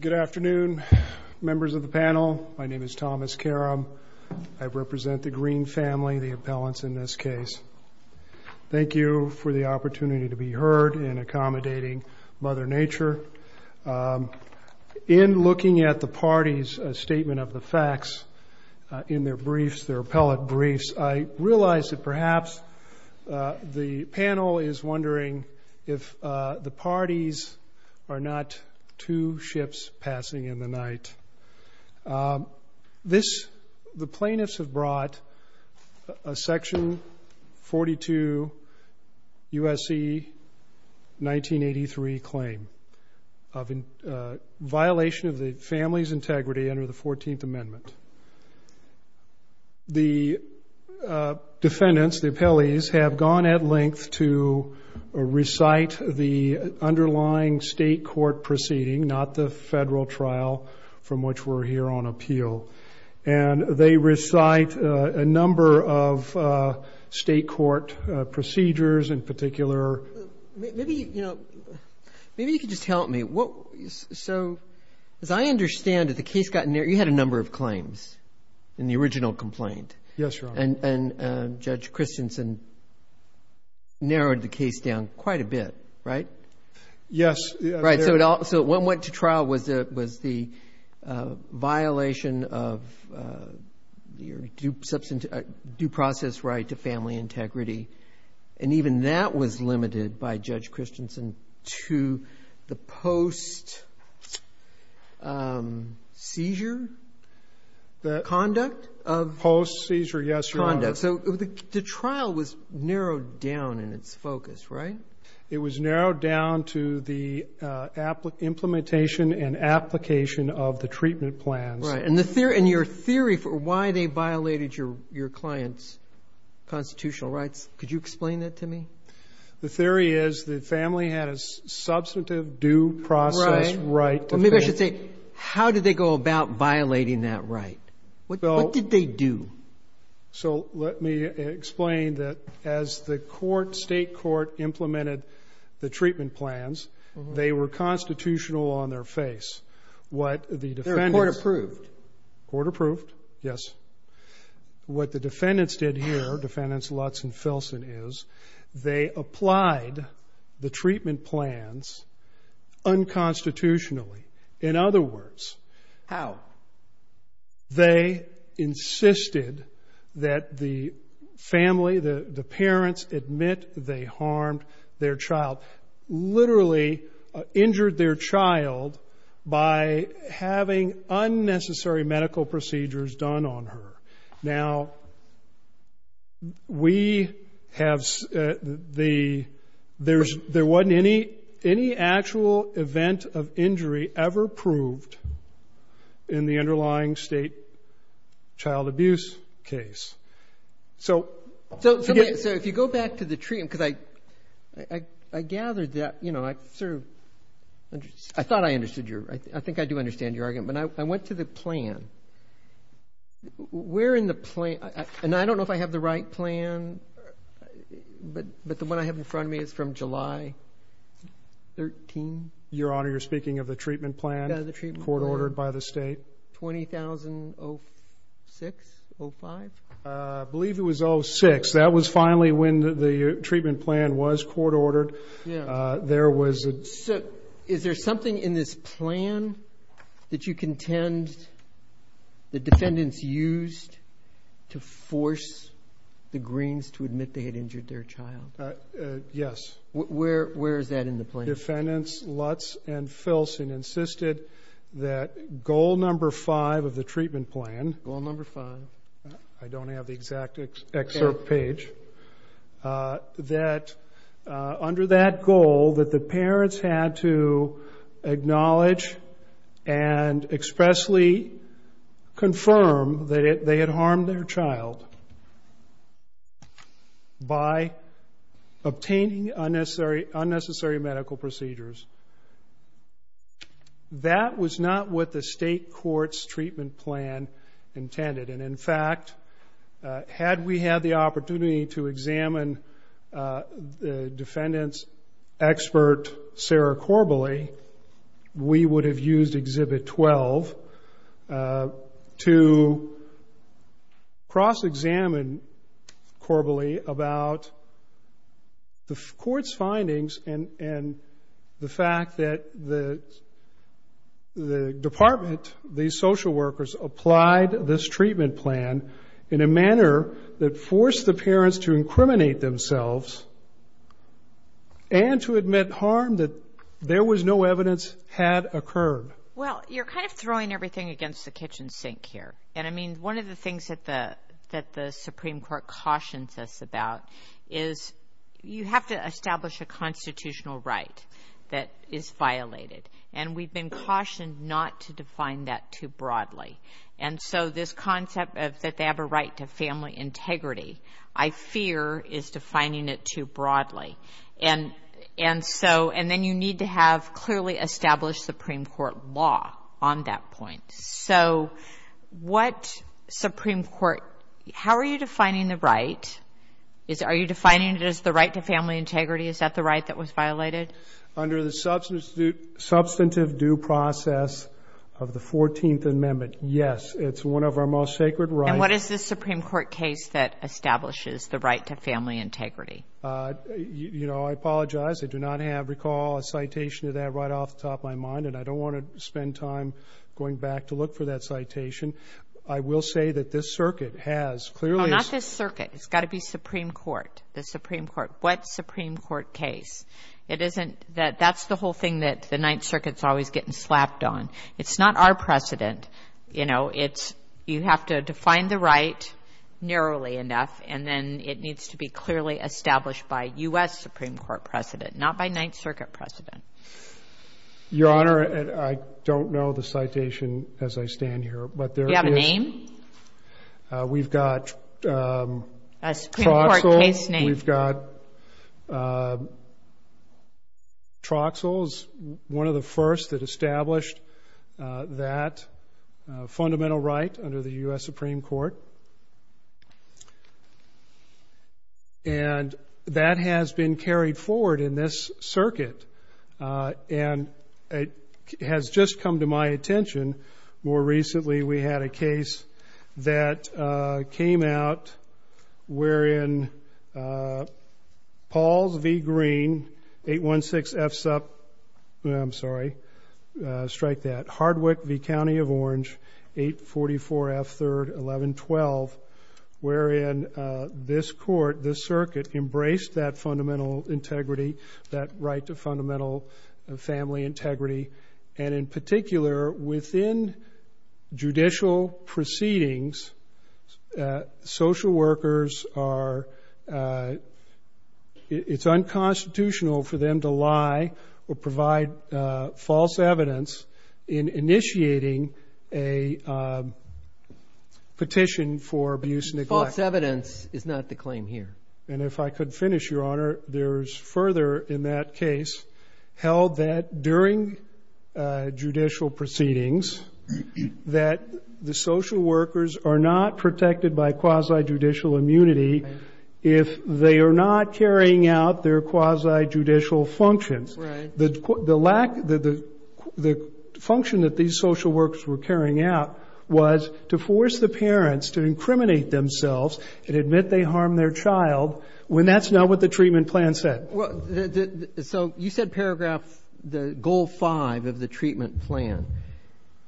Good afternoon, members of the panel. My name is Thomas Karam. I represent the Green family, the appellants in this case. Thank you for the opportunity to be heard in accommodating Mother Nature. In looking at the party's statement of the facts in their briefs, their appellate briefs, I realize that perhaps the panel is wondering if the parties are not two ships passing in the night. The plaintiffs have brought a section 42 U.S.C. 1983 claim of violation of the family's integrity under the 14th Amendment. The defendants, the appellees, have gone at length to recite the underlying state court proceeding, not the federal trial from which we're here on appeal. And they recite a number of state court procedures in particular. Maybe, you know, maybe you could just help me. So as I understand it, the case got narrowed. You had a number of claims in the original complaint. And Judge Christensen narrowed the case down quite a bit, right? So what went to trial was the violation of your due process right to family integrity. And even that was limited by Judge Christensen's post-seizure conduct? Post-seizure, yes, Your Honor. So the trial was narrowed down in its focus, right? It was narrowed down to the implementation and application of the treatment plans. And your theory for why they violated your client's constitutional rights, could you explain that to me? The theory is the family had a substantive due process right. Maybe I should say, how did they go about violating that right? What did they do? So let me explain that as the state court implemented the treatment plans, they were constitutional on their face. They were court approved? Court approved, yes. What the defendants did here, defendants Lutz and Filson is, they applied the treatment plans unconstitutionally. In other words, how? They insisted that the family, the parents admit they harmed their child, literally injured their child by having unnecessary medical procedures done on her. Now, we have the, there's, there wasn't any actual event of injury ever proved in the underlying state child abuse case. So. So if you go back to the treatment, because I gathered that, you know, I think I do understand your argument, but I went to the plan. Where in the plan, and I don't know if I have the right plan, but, but the one I have in front of me is from July 13th. Your Honor, you're speaking of the treatment plan, court ordered by the state. 20,006, 05? I believe it was 06. That was finally when the treatment plan was court ordered. There was, is there something in this plan that you contend the defendants used to force the Greens to admit they had injured their child? Yes. Where, where is that in the plan? Defendants Lutz and Filson insisted that goal number five of the treatment plan. Goal number five. I don't have the exact excerpt page, uh, that, uh, under that goal that the parents had to acknowledge and expressly confirm that they had harmed their child by obtaining unnecessary, unnecessary medical procedures. That was not what the state court's treatment plan intended. And in fact, uh, had we had the opportunity to examine, uh, the defendants expert, Sarah Corbally, we would have used exhibit 12, uh, to cross-examine Corbally about the court's findings and, and the fact that the, the department, the social workers applied this treatment plan in a manner that forced the parents to incriminate themselves and to admit harm that there was no evidence had occurred. Well, you're kind of throwing everything against the kitchen sink here. And I mean, one of the And we've been cautioned not to define that too broadly. And so this concept of that they have a right to family integrity, I fear is defining it too broadly. And, and so, and then you need to have clearly established Supreme court law on that point. So what Supreme court, how are you substantive due process of the 14th amendment? Yes. It's one of our most sacred right. And what is the Supreme court case that establishes the right to family integrity? Uh, you know, I apologize. I do not have recall a citation to that right off the top of my mind. And I don't want to spend time going back to look for that citation. I will say that this circuit has clearly not this circuit. It's got to be Supreme court, the Supreme court, what the ninth circuit's always getting slapped on. It's not our precedent. You know, it's, you have to define the right narrowly enough. And then it needs to be clearly established by us Supreme court precedent, not by ninth circuit precedent. Your honor. I don't know the citation as I stand here, but there one of the first that established, uh, that, uh, fundamental right under the U S Supreme court. And that has been carried forward in this circuit. Uh, and it has just come to my attention. More recently, we had a case that, uh, came out where in, uh, Paul's V green eight one six F's up. I'm sorry. Uh, strike that hardwick V county of orange eight 44 F third 1112, wherein, uh, this court, this circuit embraced that fundamental integrity, that right to family integrity. And in particular, within judicial proceedings, uh, social workers are, uh, it's unconstitutional for them to lie or provide, uh, false evidence in initiating a, um, petition for abuse. Neglect evidence is not the claim here. And if I could finish your honor, there's further in that case held that during, uh, judicial proceedings, that the social workers are not protected by quasi judicial immunity. If they are not carrying out their quasi judicial functions, the lack, the, the, the function that these social works were carrying out was to force the parents to incriminate themselves and admit they harmed their child when that's not what the treatment plan said. Well, so you said paragraph, the goal five of the treatment plan,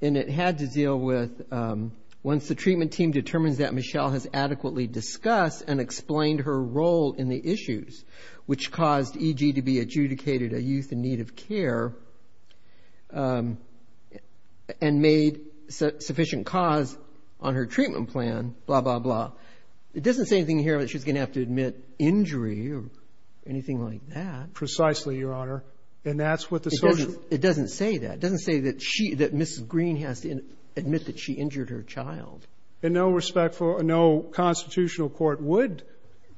and it had to deal with, um, once the treatment team determines that Michelle has adequately discussed and explained her role in the issues, which caused EG to be adjudicated a youth in need of care, um, and made sufficient cause on her treatment plan, blah, blah, blah. It doesn't say anything here that she's going to have to admit injury or anything like that. Precisely, your honor. And that's what the social It doesn't say that. It doesn't say that she, that Mrs. Green has to admit that she injured her child. In no respectful, no constitutional court would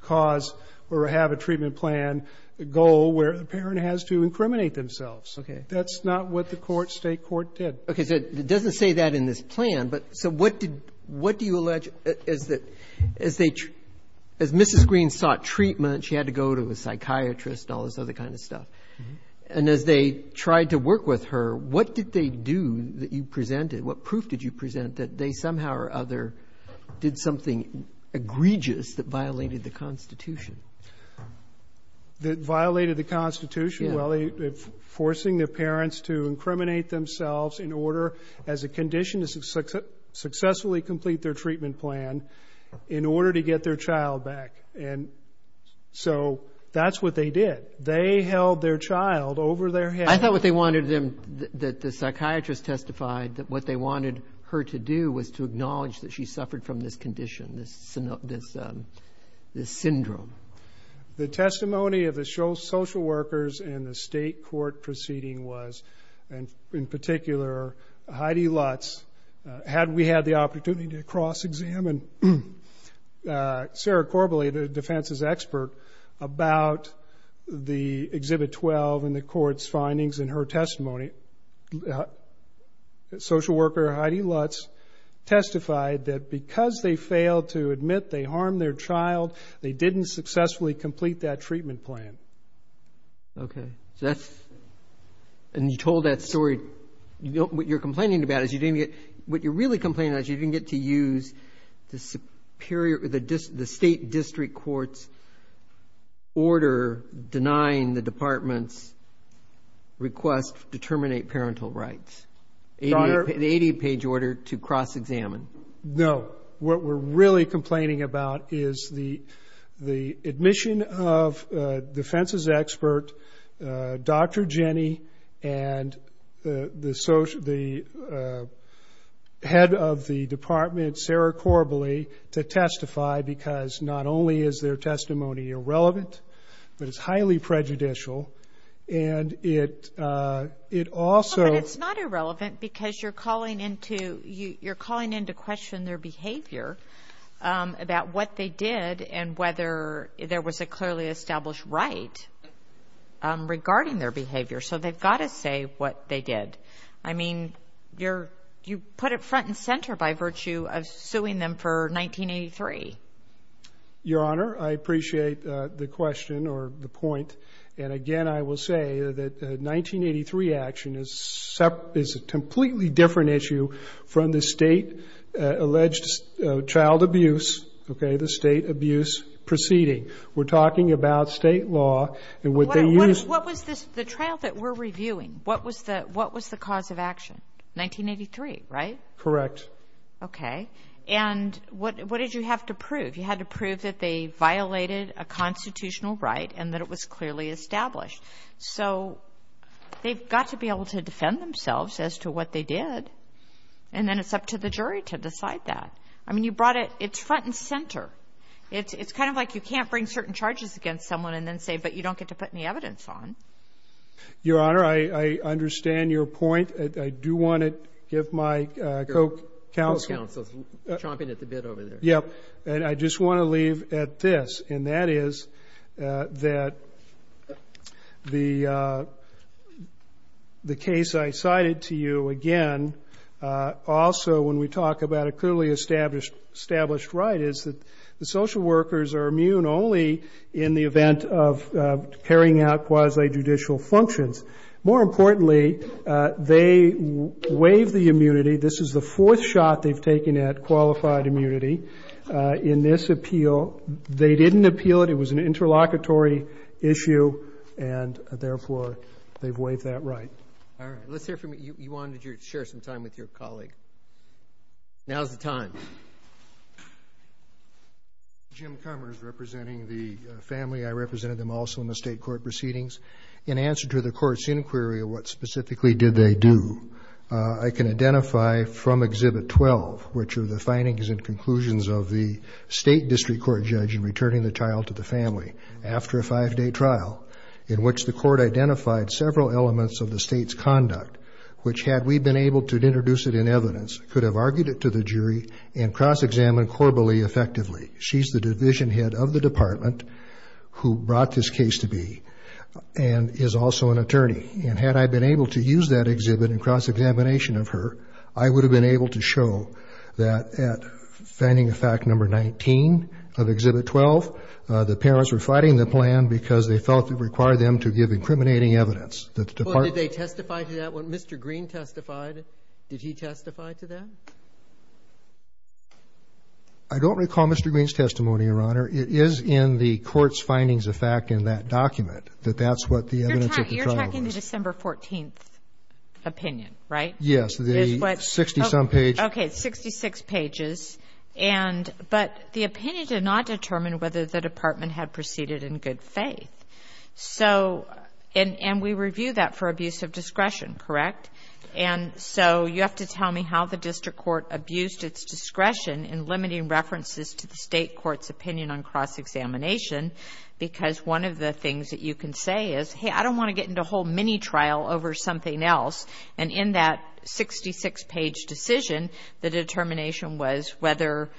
cause or have a treatment plan goal where the parent has to incriminate themselves. Okay. That's not what the court, State court did. Okay. So it doesn't say that in this plan, but so what did, what do you allege is that as they, as Mrs. Green sought treatment, she had to go to a psychiatrist and all this other kind of stuff. And as they tried to work with her, what did they do that you presented? What proof did you present that they somehow or other did something egregious that violated the constitution? That violated the constitution. Well, forcing their parents to incriminate themselves in order as a condition to successfully complete their treatment plan in order to get their child back. And so that's what they did. They held their child over their head. I thought what they wanted them, that the psychiatrist testified that what they wanted her to do was to acknowledge that she suffered from this condition. This syndrome. The testimony of the social workers in the state court proceeding was, and in particular, Heidi Lutz, had we had the opportunity to cross examine Sarah Corbally, the defense's expert about the exhibit 12 and the court's findings in her testimony, social worker Heidi Lutz testified that because they failed to admit they harmed their child, they didn't successfully complete that treatment plan. Okay. So that's, and you told that story, what you're complaining about is you didn't get, what you're really complaining about is you didn't get to use the superior, the state district court's order denying the department's request to terminate parental rights. An 80 page order to cross examine. No. What we're really complaining about is the admission of defense's expert, Dr. Jenny, and the head of the department, Sarah Corbally, to testify because not only is their testimony irrelevant, but it's highly prejudicial. And it also. But it's not irrelevant because you're calling into, you're calling into question their behavior about what they did and whether there was a clearly established right regarding their behavior. So they've got to say what they did. I mean, you're, you put it front and center by virtue of suing them for 1983. Your Honor, I appreciate the question or the point. And again, I will say that 1983 action is a completely different issue from the state alleged child abuse. Okay. The state abuse proceeding. We're talking about state law and what they use. What was this, the trial that we're reviewing? What was the, what was the cause of action? 1983, right? Correct. Okay. And what, what did you have to prove? You had to prove that they violated a constitutional right and that it was clearly established. So they've got to be able to defend themselves as to what they did. And then it's up to the jury to decide that. I mean, you brought it, it's front and center. It's, it's kind of like you can't bring certain charges against someone and then say, but you don't get to put any evidence on. Your Honor, I, I understand your point. I do want to give my co-counsel. Chomping at the bit over there. Yep. And I just want to leave at this. And that is that the the case I cited to you again also when we talk about a clearly established, established right is that the social workers are immune only in the event of carrying out quasi judicial functions. More importantly they waive the immunity. This is the fourth shot they've taken at qualified immunity. In this appeal, they didn't appeal it. It was an interlocutory issue and therefore they've waived that right. All right. Let's hear from you. You wanted to share some time with your colleague. Now's the time. Jim Cummers representing the family. I represented them also in the state court proceedings. In answer to the court's inquiry of what specifically did they do? I can identify from Exhibit 12, which are the findings and conclusions of the state district court judge in returning the child to the family after a five-day trial in which the court identified several elements of the state's conduct, which had we been able to introduce it in evidence, could have argued it to the jury and cross-examined Corbally effectively. She's the division head of the department who brought this case to be and is also an attorney. And had I been able to use that exhibit in cross-examination of her, I would have been able to show that at finding a fact number 19 of Exhibit 12, the parents were fighting the plan because they felt it required them to give incriminating evidence that the department. Did they testify to that? When Mr. Green testified, did he testify to that? I don't recall Mr. Green's testimony, Your Honor. It is in the court's findings of fact in that document that that's what the evidence of the trial was. But you're talking the December 14th opinion, right? Yes, the 60-some page. Okay, 66 pages, but the opinion did not determine whether the department had proceeded in good faith, and we review that for abuse of discretion, correct? And so you have to tell me how the district court abused its discretion in limiting references to the state court's opinion on cross-examination because one of the things that you can say is, hey, I don't want to get into a whole mini trial over something else. And in that 66-page decision, the determination was whether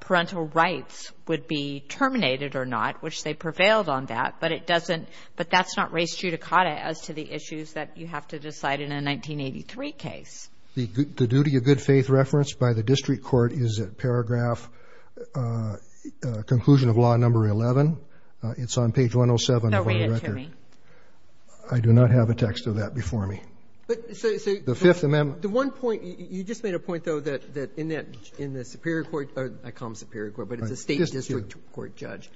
parental rights would be terminated or not, which they prevailed on that. But it doesn't, but that's not res judicata as to the issues that you have to decide in a 1983 case. The duty of good faith referenced by the district court is at paragraph, conclusion of law number 11. It's on page 107 of our record. I do not have a text of that before me. The Fifth Amendment. The one point, you just made a point, though, that in that, in the superior court, I call them superior court, but it's a state district court judge,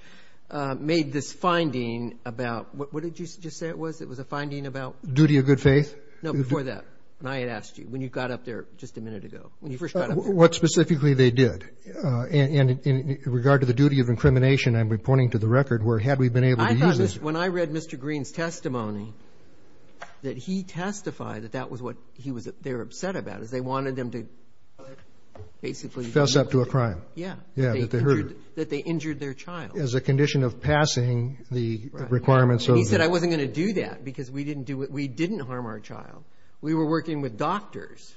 made this finding about, what did you just say it was? It was a finding about? Duty of good faith. No, before that, when I had asked you, when you got up there just a minute ago, when you first got up there. What specifically they did, and in regard to the duty of incrimination, I'm pointing to the record where had we been able to use this? When I read Mr. Green's testimony, that he testified that that was what he was, they were upset about, is they wanted them to basically. Fess up to a crime. Yeah. Yeah. That they injured their child. As a condition of passing the requirements of. He said, I wasn't going to do that because we didn't do it. We didn't harm our child. We were working with doctors.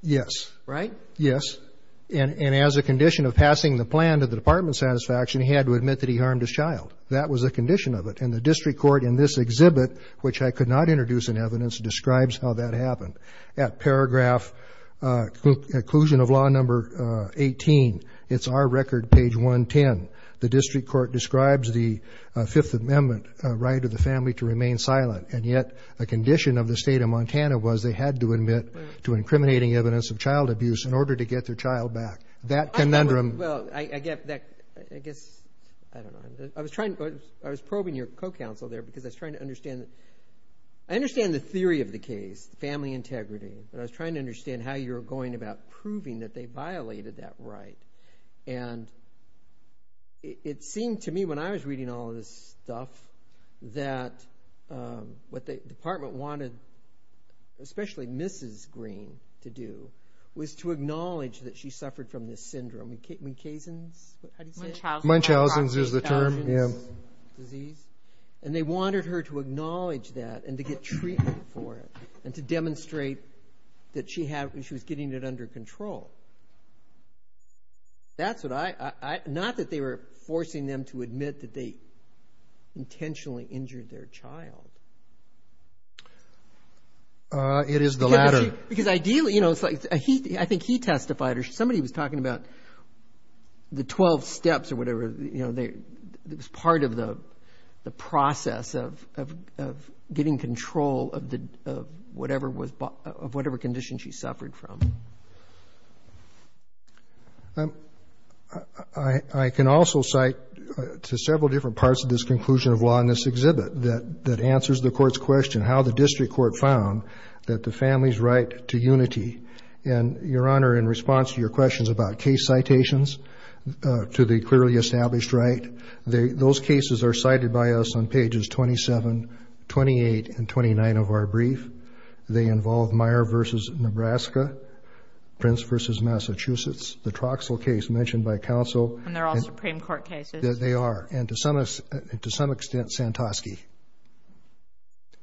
Yes. Right? Yes. And as a condition of passing the plan to the department of satisfaction, he had to admit that he harmed his child. That was a condition of it. And the district court in this exhibit, which I could not introduce in evidence, describes how that happened. At paragraph, conclusion of law number 18, it's our record page 110. The district court describes the Fifth Amendment right of the family to remain silent, and yet a condition of the state of Montana was they had to admit to incriminating evidence of child abuse in order to get their child back. That conundrum. Well, I guess, I don't know. I was trying, I was probing your co-counsel there because I was trying to understand, I understand the theory of the case, the family integrity, but I was trying to understand how you were going about proving that they violated that right. And it seemed to me when I was reading all of this stuff that what the department wanted, especially Mrs. Green, to do was to acknowledge that she suffered from this syndrome, Munchausen's disease, and they wanted her to acknowledge that and to get treatment for it and to demonstrate that she was getting it under control. That's what I, not that they were forcing them to admit that they intentionally injured their child. It is the latter. I can also cite to several different parts of this conclusion of law in this exhibit that answers the court's question, how the district court found that the family's right to remain silent was not a condition of the state of Montana. And your Honor, in response to your questions about case citations to the clearly established right, those cases are cited by us on pages 27, 28, and 29 of our brief. They involve Meyer v. Nebraska, Prince v. Massachusetts, the Troxel case mentioned by counsel. And they're all Supreme Court cases. They are. And to some extent, Santosky.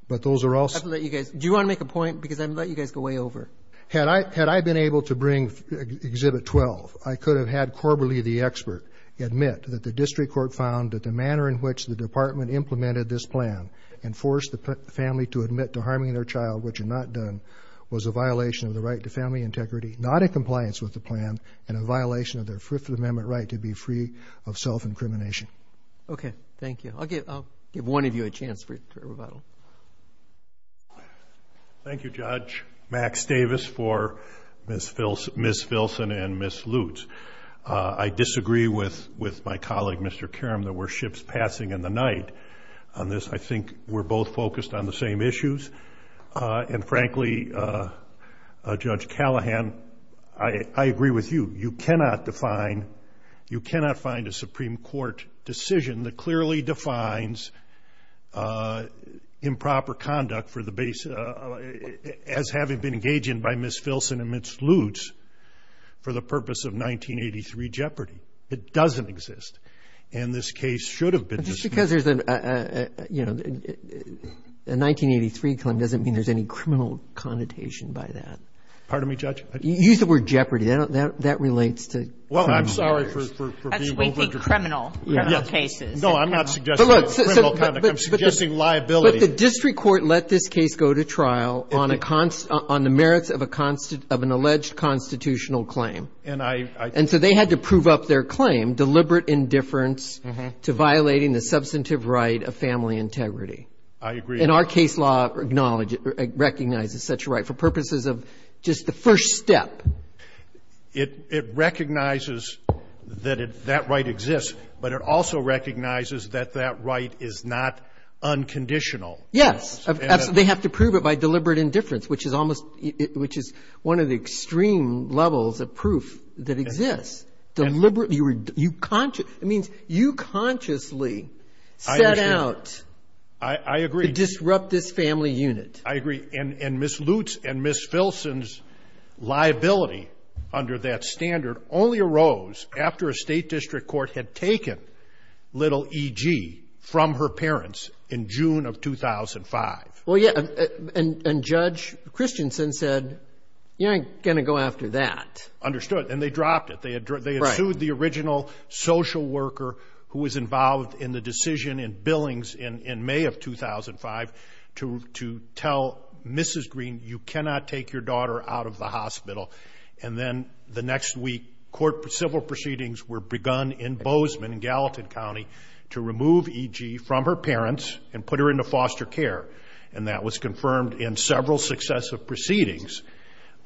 But those are all. I'll let you guys. Do you want to make a point? Because I'm going to let you guys go way over. Had I been able to bring exhibit 12, I could have had Corberley, the expert, admit that the district court found that the manner in which the department implemented this plan and forced the family to admit to harming their child, which it had not done, was a violation of the right to family integrity, not in compliance with the plan, and a violation of their Fifth Amendment right to be free of self-incrimination. Okay. Thank you. I'll give one of you a chance for rebuttal. Thank you, Judge. Max Davis for Ms. Filson and Ms. Lutz. I disagree with my colleague, Mr. Karam, that we're ships passing in the night on this. I think we're both focused on the same issues. And frankly, Judge Callahan, I agree with you. You cannot define, you cannot find a Supreme Court decision that clearly defines improper conduct for the base as having been engaged in by Ms. Filson and Ms. Lutz for the purpose of 1983 jeopardy. It doesn't exist. And this case should have been dismissed. Because there's a, you know, a 1983 claim doesn't mean there's any criminal connotation by that. Pardon me, Judge? Use the word jeopardy. That relates to crime lawyers. Well, I'm sorry for being over- That's wakey criminal cases. No, I'm not suggesting criminal conduct. I'm suggesting liability. But the district court let this case go to trial on the merits of an alleged constitutional claim. And so they had to prove up their claim, deliberate indifference to violating the substantive right of family integrity. I agree. And our case law acknowledges, recognizes such a right for purposes of just the first step. It recognizes that that right exists, but it also recognizes that that right is not unconditional. Yes. They have to prove it by deliberate indifference, which is almost, which is one of the extreme levels of proof that exists. Deliberately, you consciously, it means you consciously set out to disrupt this family unit. I agree. And Ms. Lutz and Ms. Filson's liability under that standard only arose after a state district court had taken little E.G. from her parents in June of 2005. Well, yeah. And Judge Christensen said, you're not going to go after that. Understood. And they dropped it. Right. They had sued the original social worker who was involved in the decision in Billings in May of 2005 to tell Mrs. Green, you cannot take your daughter out of the hospital. And then the next week, court civil proceedings were begun in Bozeman, Gallatin County, to remove E.G. from her parents and put her into foster care. And that was confirmed in several successive proceedings.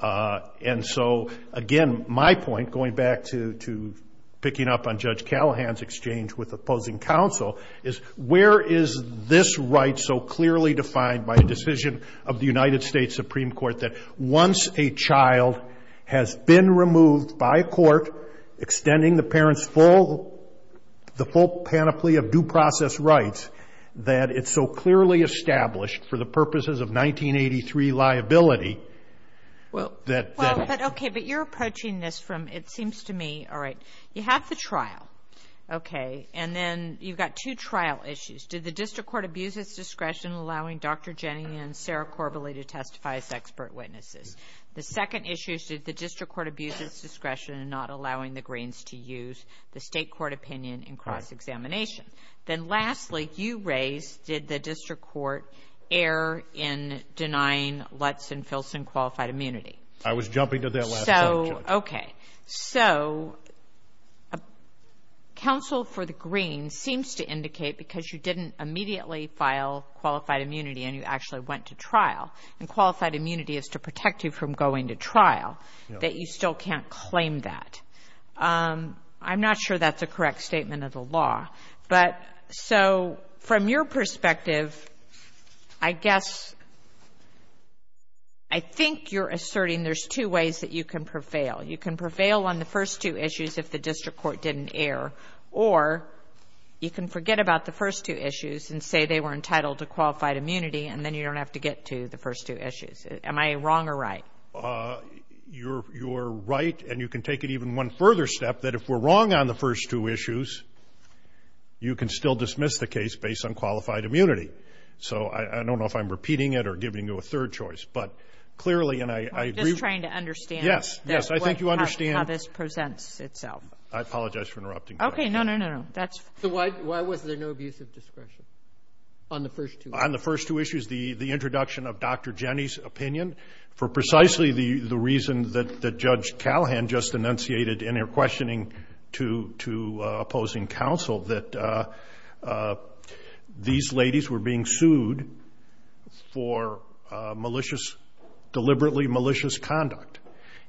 And so, again, my point, going back to picking up on Judge Callahan's exchange with opposing counsel, is where is this right so clearly defined by a decision of the United States Supreme Court that once a child has been removed by a court, extending the parent's full, the full panoply of due process rights, that it's so clearly established for the purposes of 1983 liability that. Well, okay, but you're approaching this from, it seems to me, all right, you have the trial, okay, and then you've got two trial issues. Did the district court abuse its discretion in allowing Dr. Jenny and Sarah Corbally to testify as expert witnesses? The second issue is did the district court abuse its discretion in not allowing the Greens to use the state court opinion in cross-examination? Then lastly, you raised, did the district court err in denying Lutz and Filson qualified immunity? Okay, so counsel for the Greens seems to indicate because you didn't immediately file qualified immunity and you actually went to trial, and qualified immunity is to protect you from going to trial, that you still can't claim that. I'm not sure that's a correct statement of the law. But so from your perspective, I guess, I think you're asserting there's two ways that you can prevail. You can prevail on the first two issues if the district court didn't err. Or you can forget about the first two issues and say they were entitled to qualified immunity, and then you don't have to get to the first two issues. Am I wrong or right? You're right, and you can take it even one further step, that if we're wrong on the first two issues, you can still dismiss the case based on qualified immunity. So I don't know if I'm repeating it or giving you a third choice. But clearly, and I agree with you. I'm just trying to understand. Yes. Yes. I think you understand. That's how this presents itself. I apologize for interrupting you. Okay. No, no, no, no. That's fine. So why was there no abuse of discretion on the first two issues? The introduction of Dr. Jenny's opinion for precisely the reason that Judge Callahan just enunciated in her questioning to opposing counsel, that these ladies were being sued for malicious, deliberately malicious conduct.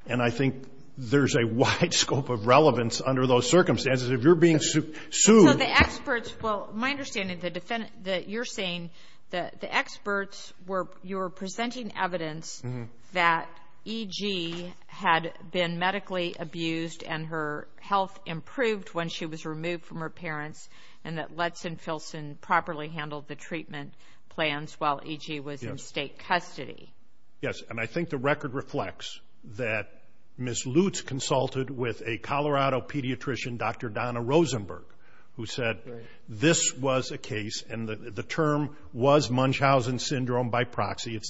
And I think there's a wide scope of relevance under those circumstances. If you're being sued. So the experts, well, my understanding that you're saying that the experts were, you were presenting evidence that E.G. had been medically abused and her health improved when she was removed from her parents, and that Letts and Filson properly handled the treatment plans while E.G. was in state custody. Yes, and I think the record reflects that Ms. Lutz consulted with a Colorado pediatrician, Dr. Donna Rosenberg, who said this was a case, and the term was Munchausen syndrome by proxy.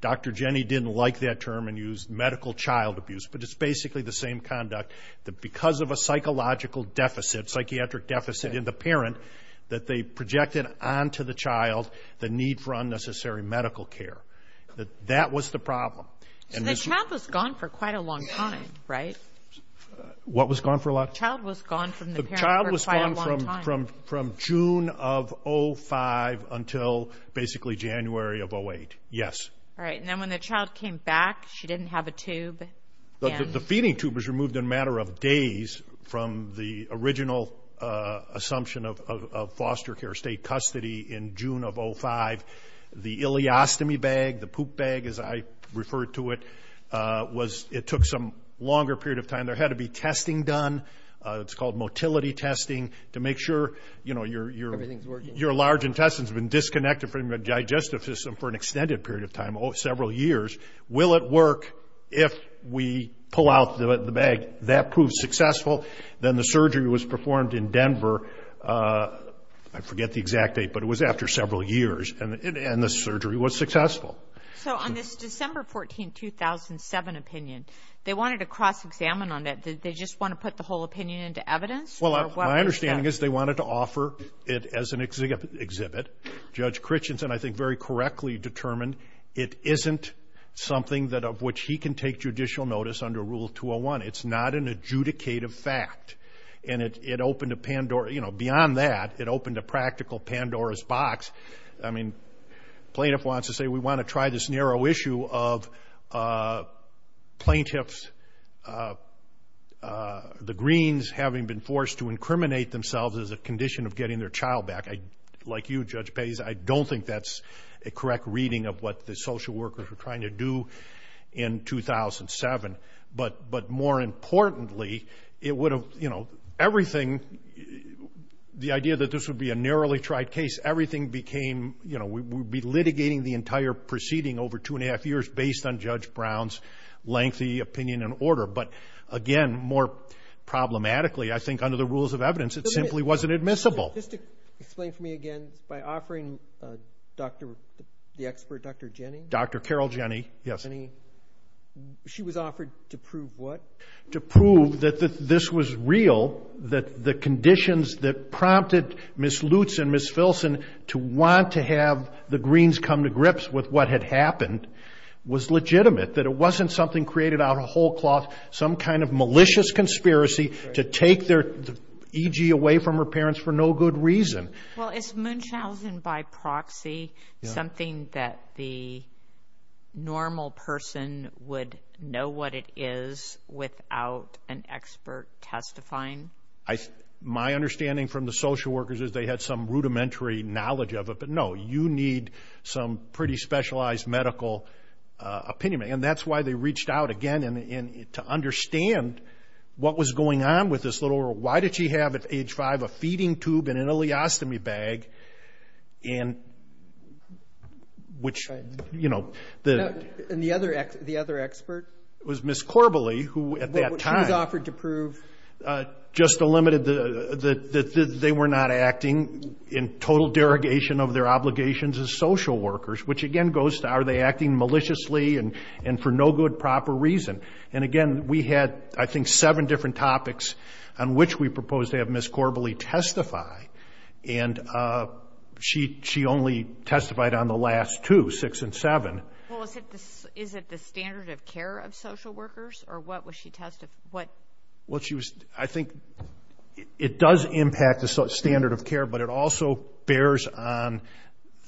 Dr. Jenny didn't like that term and used medical child abuse. But it's basically the same conduct, that because of a psychological deficit, psychiatric deficit in the parent, that they projected onto the child the need for unnecessary medical care. That was the problem. So the child was gone for quite a long time, right? What was gone for a long time? The child was gone from the parent for quite a long time. The child was gone from June of 05 until basically January of 08. Yes. All right, and then when the child came back, she didn't have a tube. The feeding tube was removed in a matter of days from the original assumption of foster care, state custody, in June of 05. The ileostomy bag, the poop bag as I refer to it, was, it took some longer period of time, it's called motility testing, to make sure, you know, your large intestine's been disconnected from your digestive system for an extended period of time, several years. Will it work if we pull out the bag? That proved successful. Then the surgery was performed in Denver, I forget the exact date, but it was after several years, and the surgery was successful. So on this December 14, 2007 opinion, they wanted to cross-examine on that. Did they just want to put the whole opinion into evidence? Well, my understanding is they wanted to offer it as an exhibit. Judge Christensen, I think, very correctly determined it isn't something that of which he can take judicial notice under Rule 201. It's not an adjudicative fact, and it opened a Pandora, you know, beyond that, it opened a practical Pandora's box. I mean, plaintiff wants to say, we want to try this narrow issue of plaintiffs, the Greens, having been forced to incriminate themselves as a condition of getting their child back. Like you, Judge Pais, I don't think that's a correct reading of what the social workers were trying to do in 2007. But more importantly, it would have, you know, everything, the idea that this would be a litigating the entire proceeding over two and a half years based on Judge Brown's lengthy opinion and order. But, again, more problematically, I think under the rules of evidence, it simply wasn't admissible. Just explain for me again, by offering the expert, Dr. Jenny? Dr. Carol Jenny, yes. Jenny, she was offered to prove what? To prove that this was real, that the conditions that prompted Ms. Lutz and Ms. Filson to want to have the Greens come to grips with what had happened was legitimate, that it wasn't something created out of whole cloth, some kind of malicious conspiracy to take their EG away from her parents for no good reason. Well, is Munchausen by proxy something that the normal person would know what it is without an expert testifying? My understanding from the social workers is they had some rudimentary knowledge of it. But, no, you need some pretty specialized medical opinion. And that's why they reached out, again, to understand what was going on with this little girl. Why did she have at age five a feeding tube and an ileostomy bag? And the other expert? It was Ms. Corbally, who at that time... just eliminated that they were not acting in total derogation of their obligations as social workers, which, again, goes to are they acting maliciously and for no good, proper reason? And, again, we had, I think, seven different topics on which we proposed to have Ms. Corbally testify. And she only testified on the last two, six and seven. Well, is it the standard of care of social workers? Or what was she testifying? I think it does impact the standard of care, but it also bears on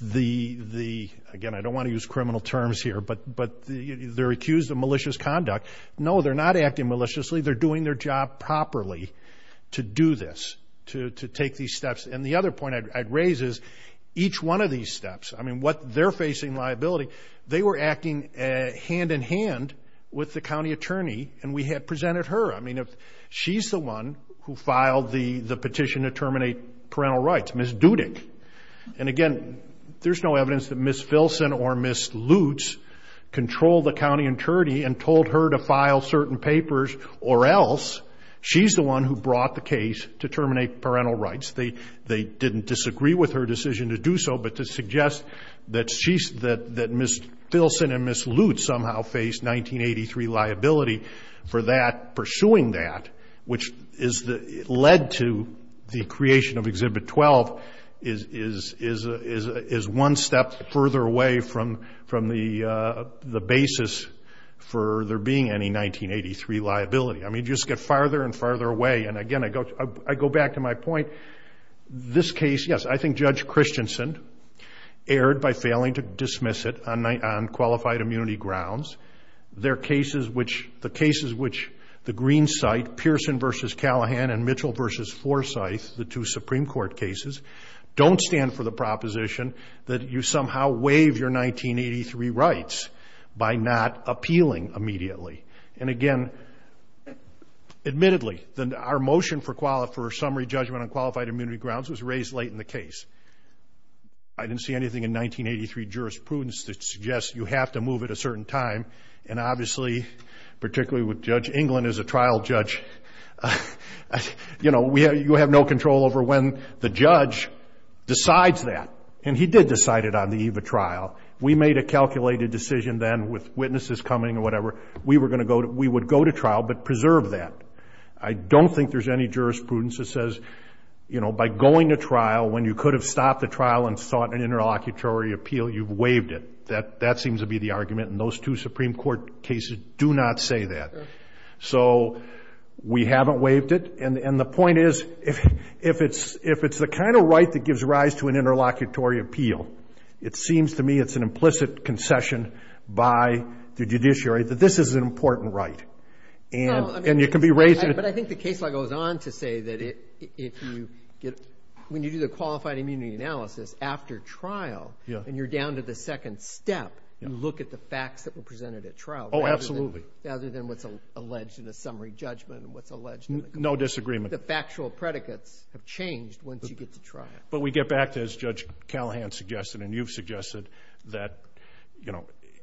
the, again, I don't want to use criminal terms here, but they're accused of malicious conduct. No, they're not acting maliciously. They're doing their job properly to do this, to take these steps. And the other point I'd raise is each one of these steps, I mean, what they're facing liability, they were acting hand-in-hand with the county attorney. And we had presented her. I mean, she's the one who filed the petition to terminate parental rights, Ms. Dudick. And, again, there's no evidence that Ms. Filson or Ms. Lutz controlled the county attorney and told her to file certain papers or else. She's the one who brought the case to terminate parental rights. They didn't disagree with her decision to do so, but to suggest that Ms. Filson and Ms. Lutz had liability for that, pursuing that, which led to the creation of Exhibit 12, is one step further away from the basis for there being any 1983 liability. I mean, you just get farther and farther away. And, again, I go back to my point. This case, yes, I think Judge Christensen erred by failing to dismiss it on qualified immunity grounds. The cases which the Greens cite, Pearson v. Callahan and Mitchell v. Forsyth, the two Supreme Court cases, don't stand for the proposition that you somehow waive your 1983 rights by not appealing immediately. And, again, admittedly, our motion for summary judgment on qualified immunity grounds was raised late in the case. I didn't see anything in 1983 jurisprudence that suggests you have to move at a certain time. And, obviously, particularly with Judge England as a trial judge, you have no control over when the judge decides that. And he did decide it on the eve of trial. We made a calculated decision then with witnesses coming or whatever. We would go to trial but preserve that. I don't think there's any jurisprudence that says, you know, by going to trial, when you could have stopped the trial and sought an interlocutory appeal, you've waived it. That seems to be the argument. And those two Supreme Court cases do not say that. So we haven't waived it. And the point is, if it's the kind of right that gives rise to an interlocutory appeal, it seems to me it's an implicit concession by the judiciary that this is an important right. But I think the case law goes on to say that when you do the qualified immunity analysis after trial and you're down to the second step, you look at the facts that were presented at trial rather than what's alleged in a summary judgment. No disagreement. The factual predicates have changed once you get to trial. But we get back to, as Judge Callahan suggested and you've suggested, that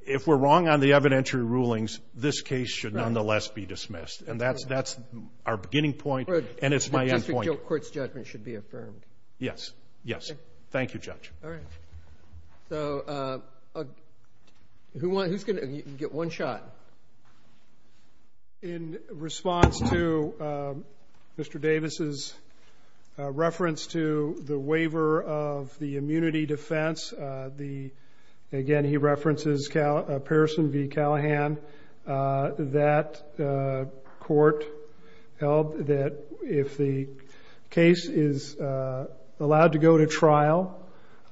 if we're wrong on the evidentiary rulings, this case should nonetheless be dismissed. And that's our beginning point, and it's my end point. But just the court's judgment should be affirmed. Yes. Yes. Thank you, Judge. All right. So who's going to get one shot? In response to Mr. Davis's reference to the waiver of the immunity defense, again, he references Pearson v. Callahan, that court held that if the case is allowed to go to trial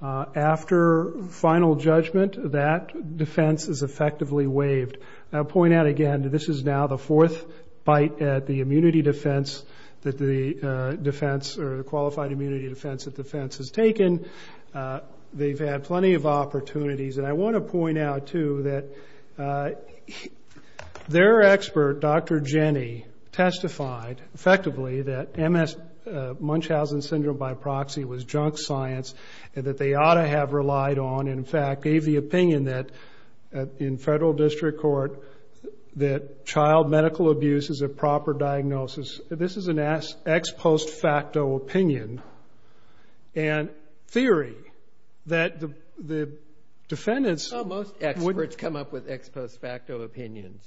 after final judgment, that defense is effectively waived. I'll point out again, this is now the fourth bite at the immunity defense that the defense or the qualified immunity defense that the defense has taken. They've had plenty of opportunities. And I want to point out, too, that their expert, Dr. Jenny, testified effectively that Munchausen syndrome by proxy was junk science and that they ought to have relied on. In fact, gave the opinion in federal district court that child medical abuse is a proper diagnosis. This is an ex post facto opinion. And theory that the defendants. Oh, most experts come up with ex post facto opinions.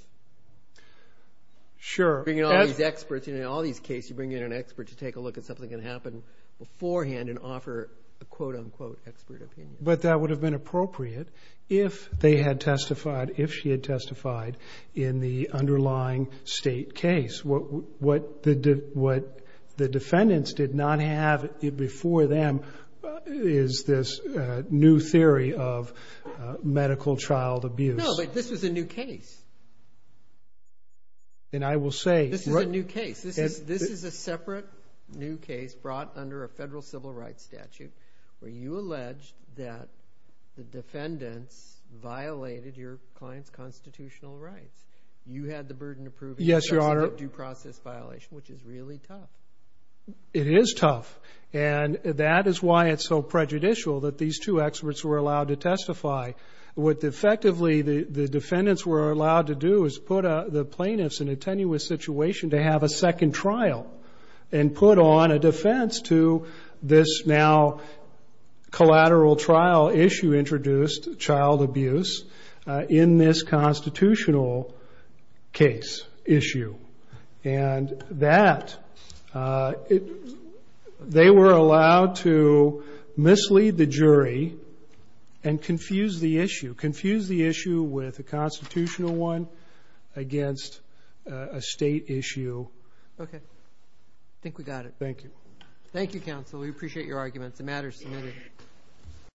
Sure. You bring in all these experts. In all these cases, you bring in an expert to take a look at something that happened beforehand and offer a quote unquote expert opinion. But that would have been appropriate if they had testified, if she had testified in the underlying state case. What the defendants did not have before them is this new theory of medical child abuse. No, but this was a new case. And I will say. This is a new case. This is a separate new case brought under a federal civil rights statute where you allege that the defendants violated your client's constitutional rights. You had the burden of proving. Yes, Your Honor. Due process violation, which is really tough. It is tough. And that is why it's so prejudicial that these two experts were allowed to testify. What effectively the defendants were allowed to do is put the plaintiffs in a tenuous situation to have a second trial and put on a defense to this now collateral trial issue introduced, child abuse, in this constitutional case issue. And that they were allowed to mislead the jury and confuse the issue, confuse the issue with a constitutional one against a state issue. Okay. I think we got it. Thank you. Thank you, counsel. We appreciate your arguments. The matter is submitted.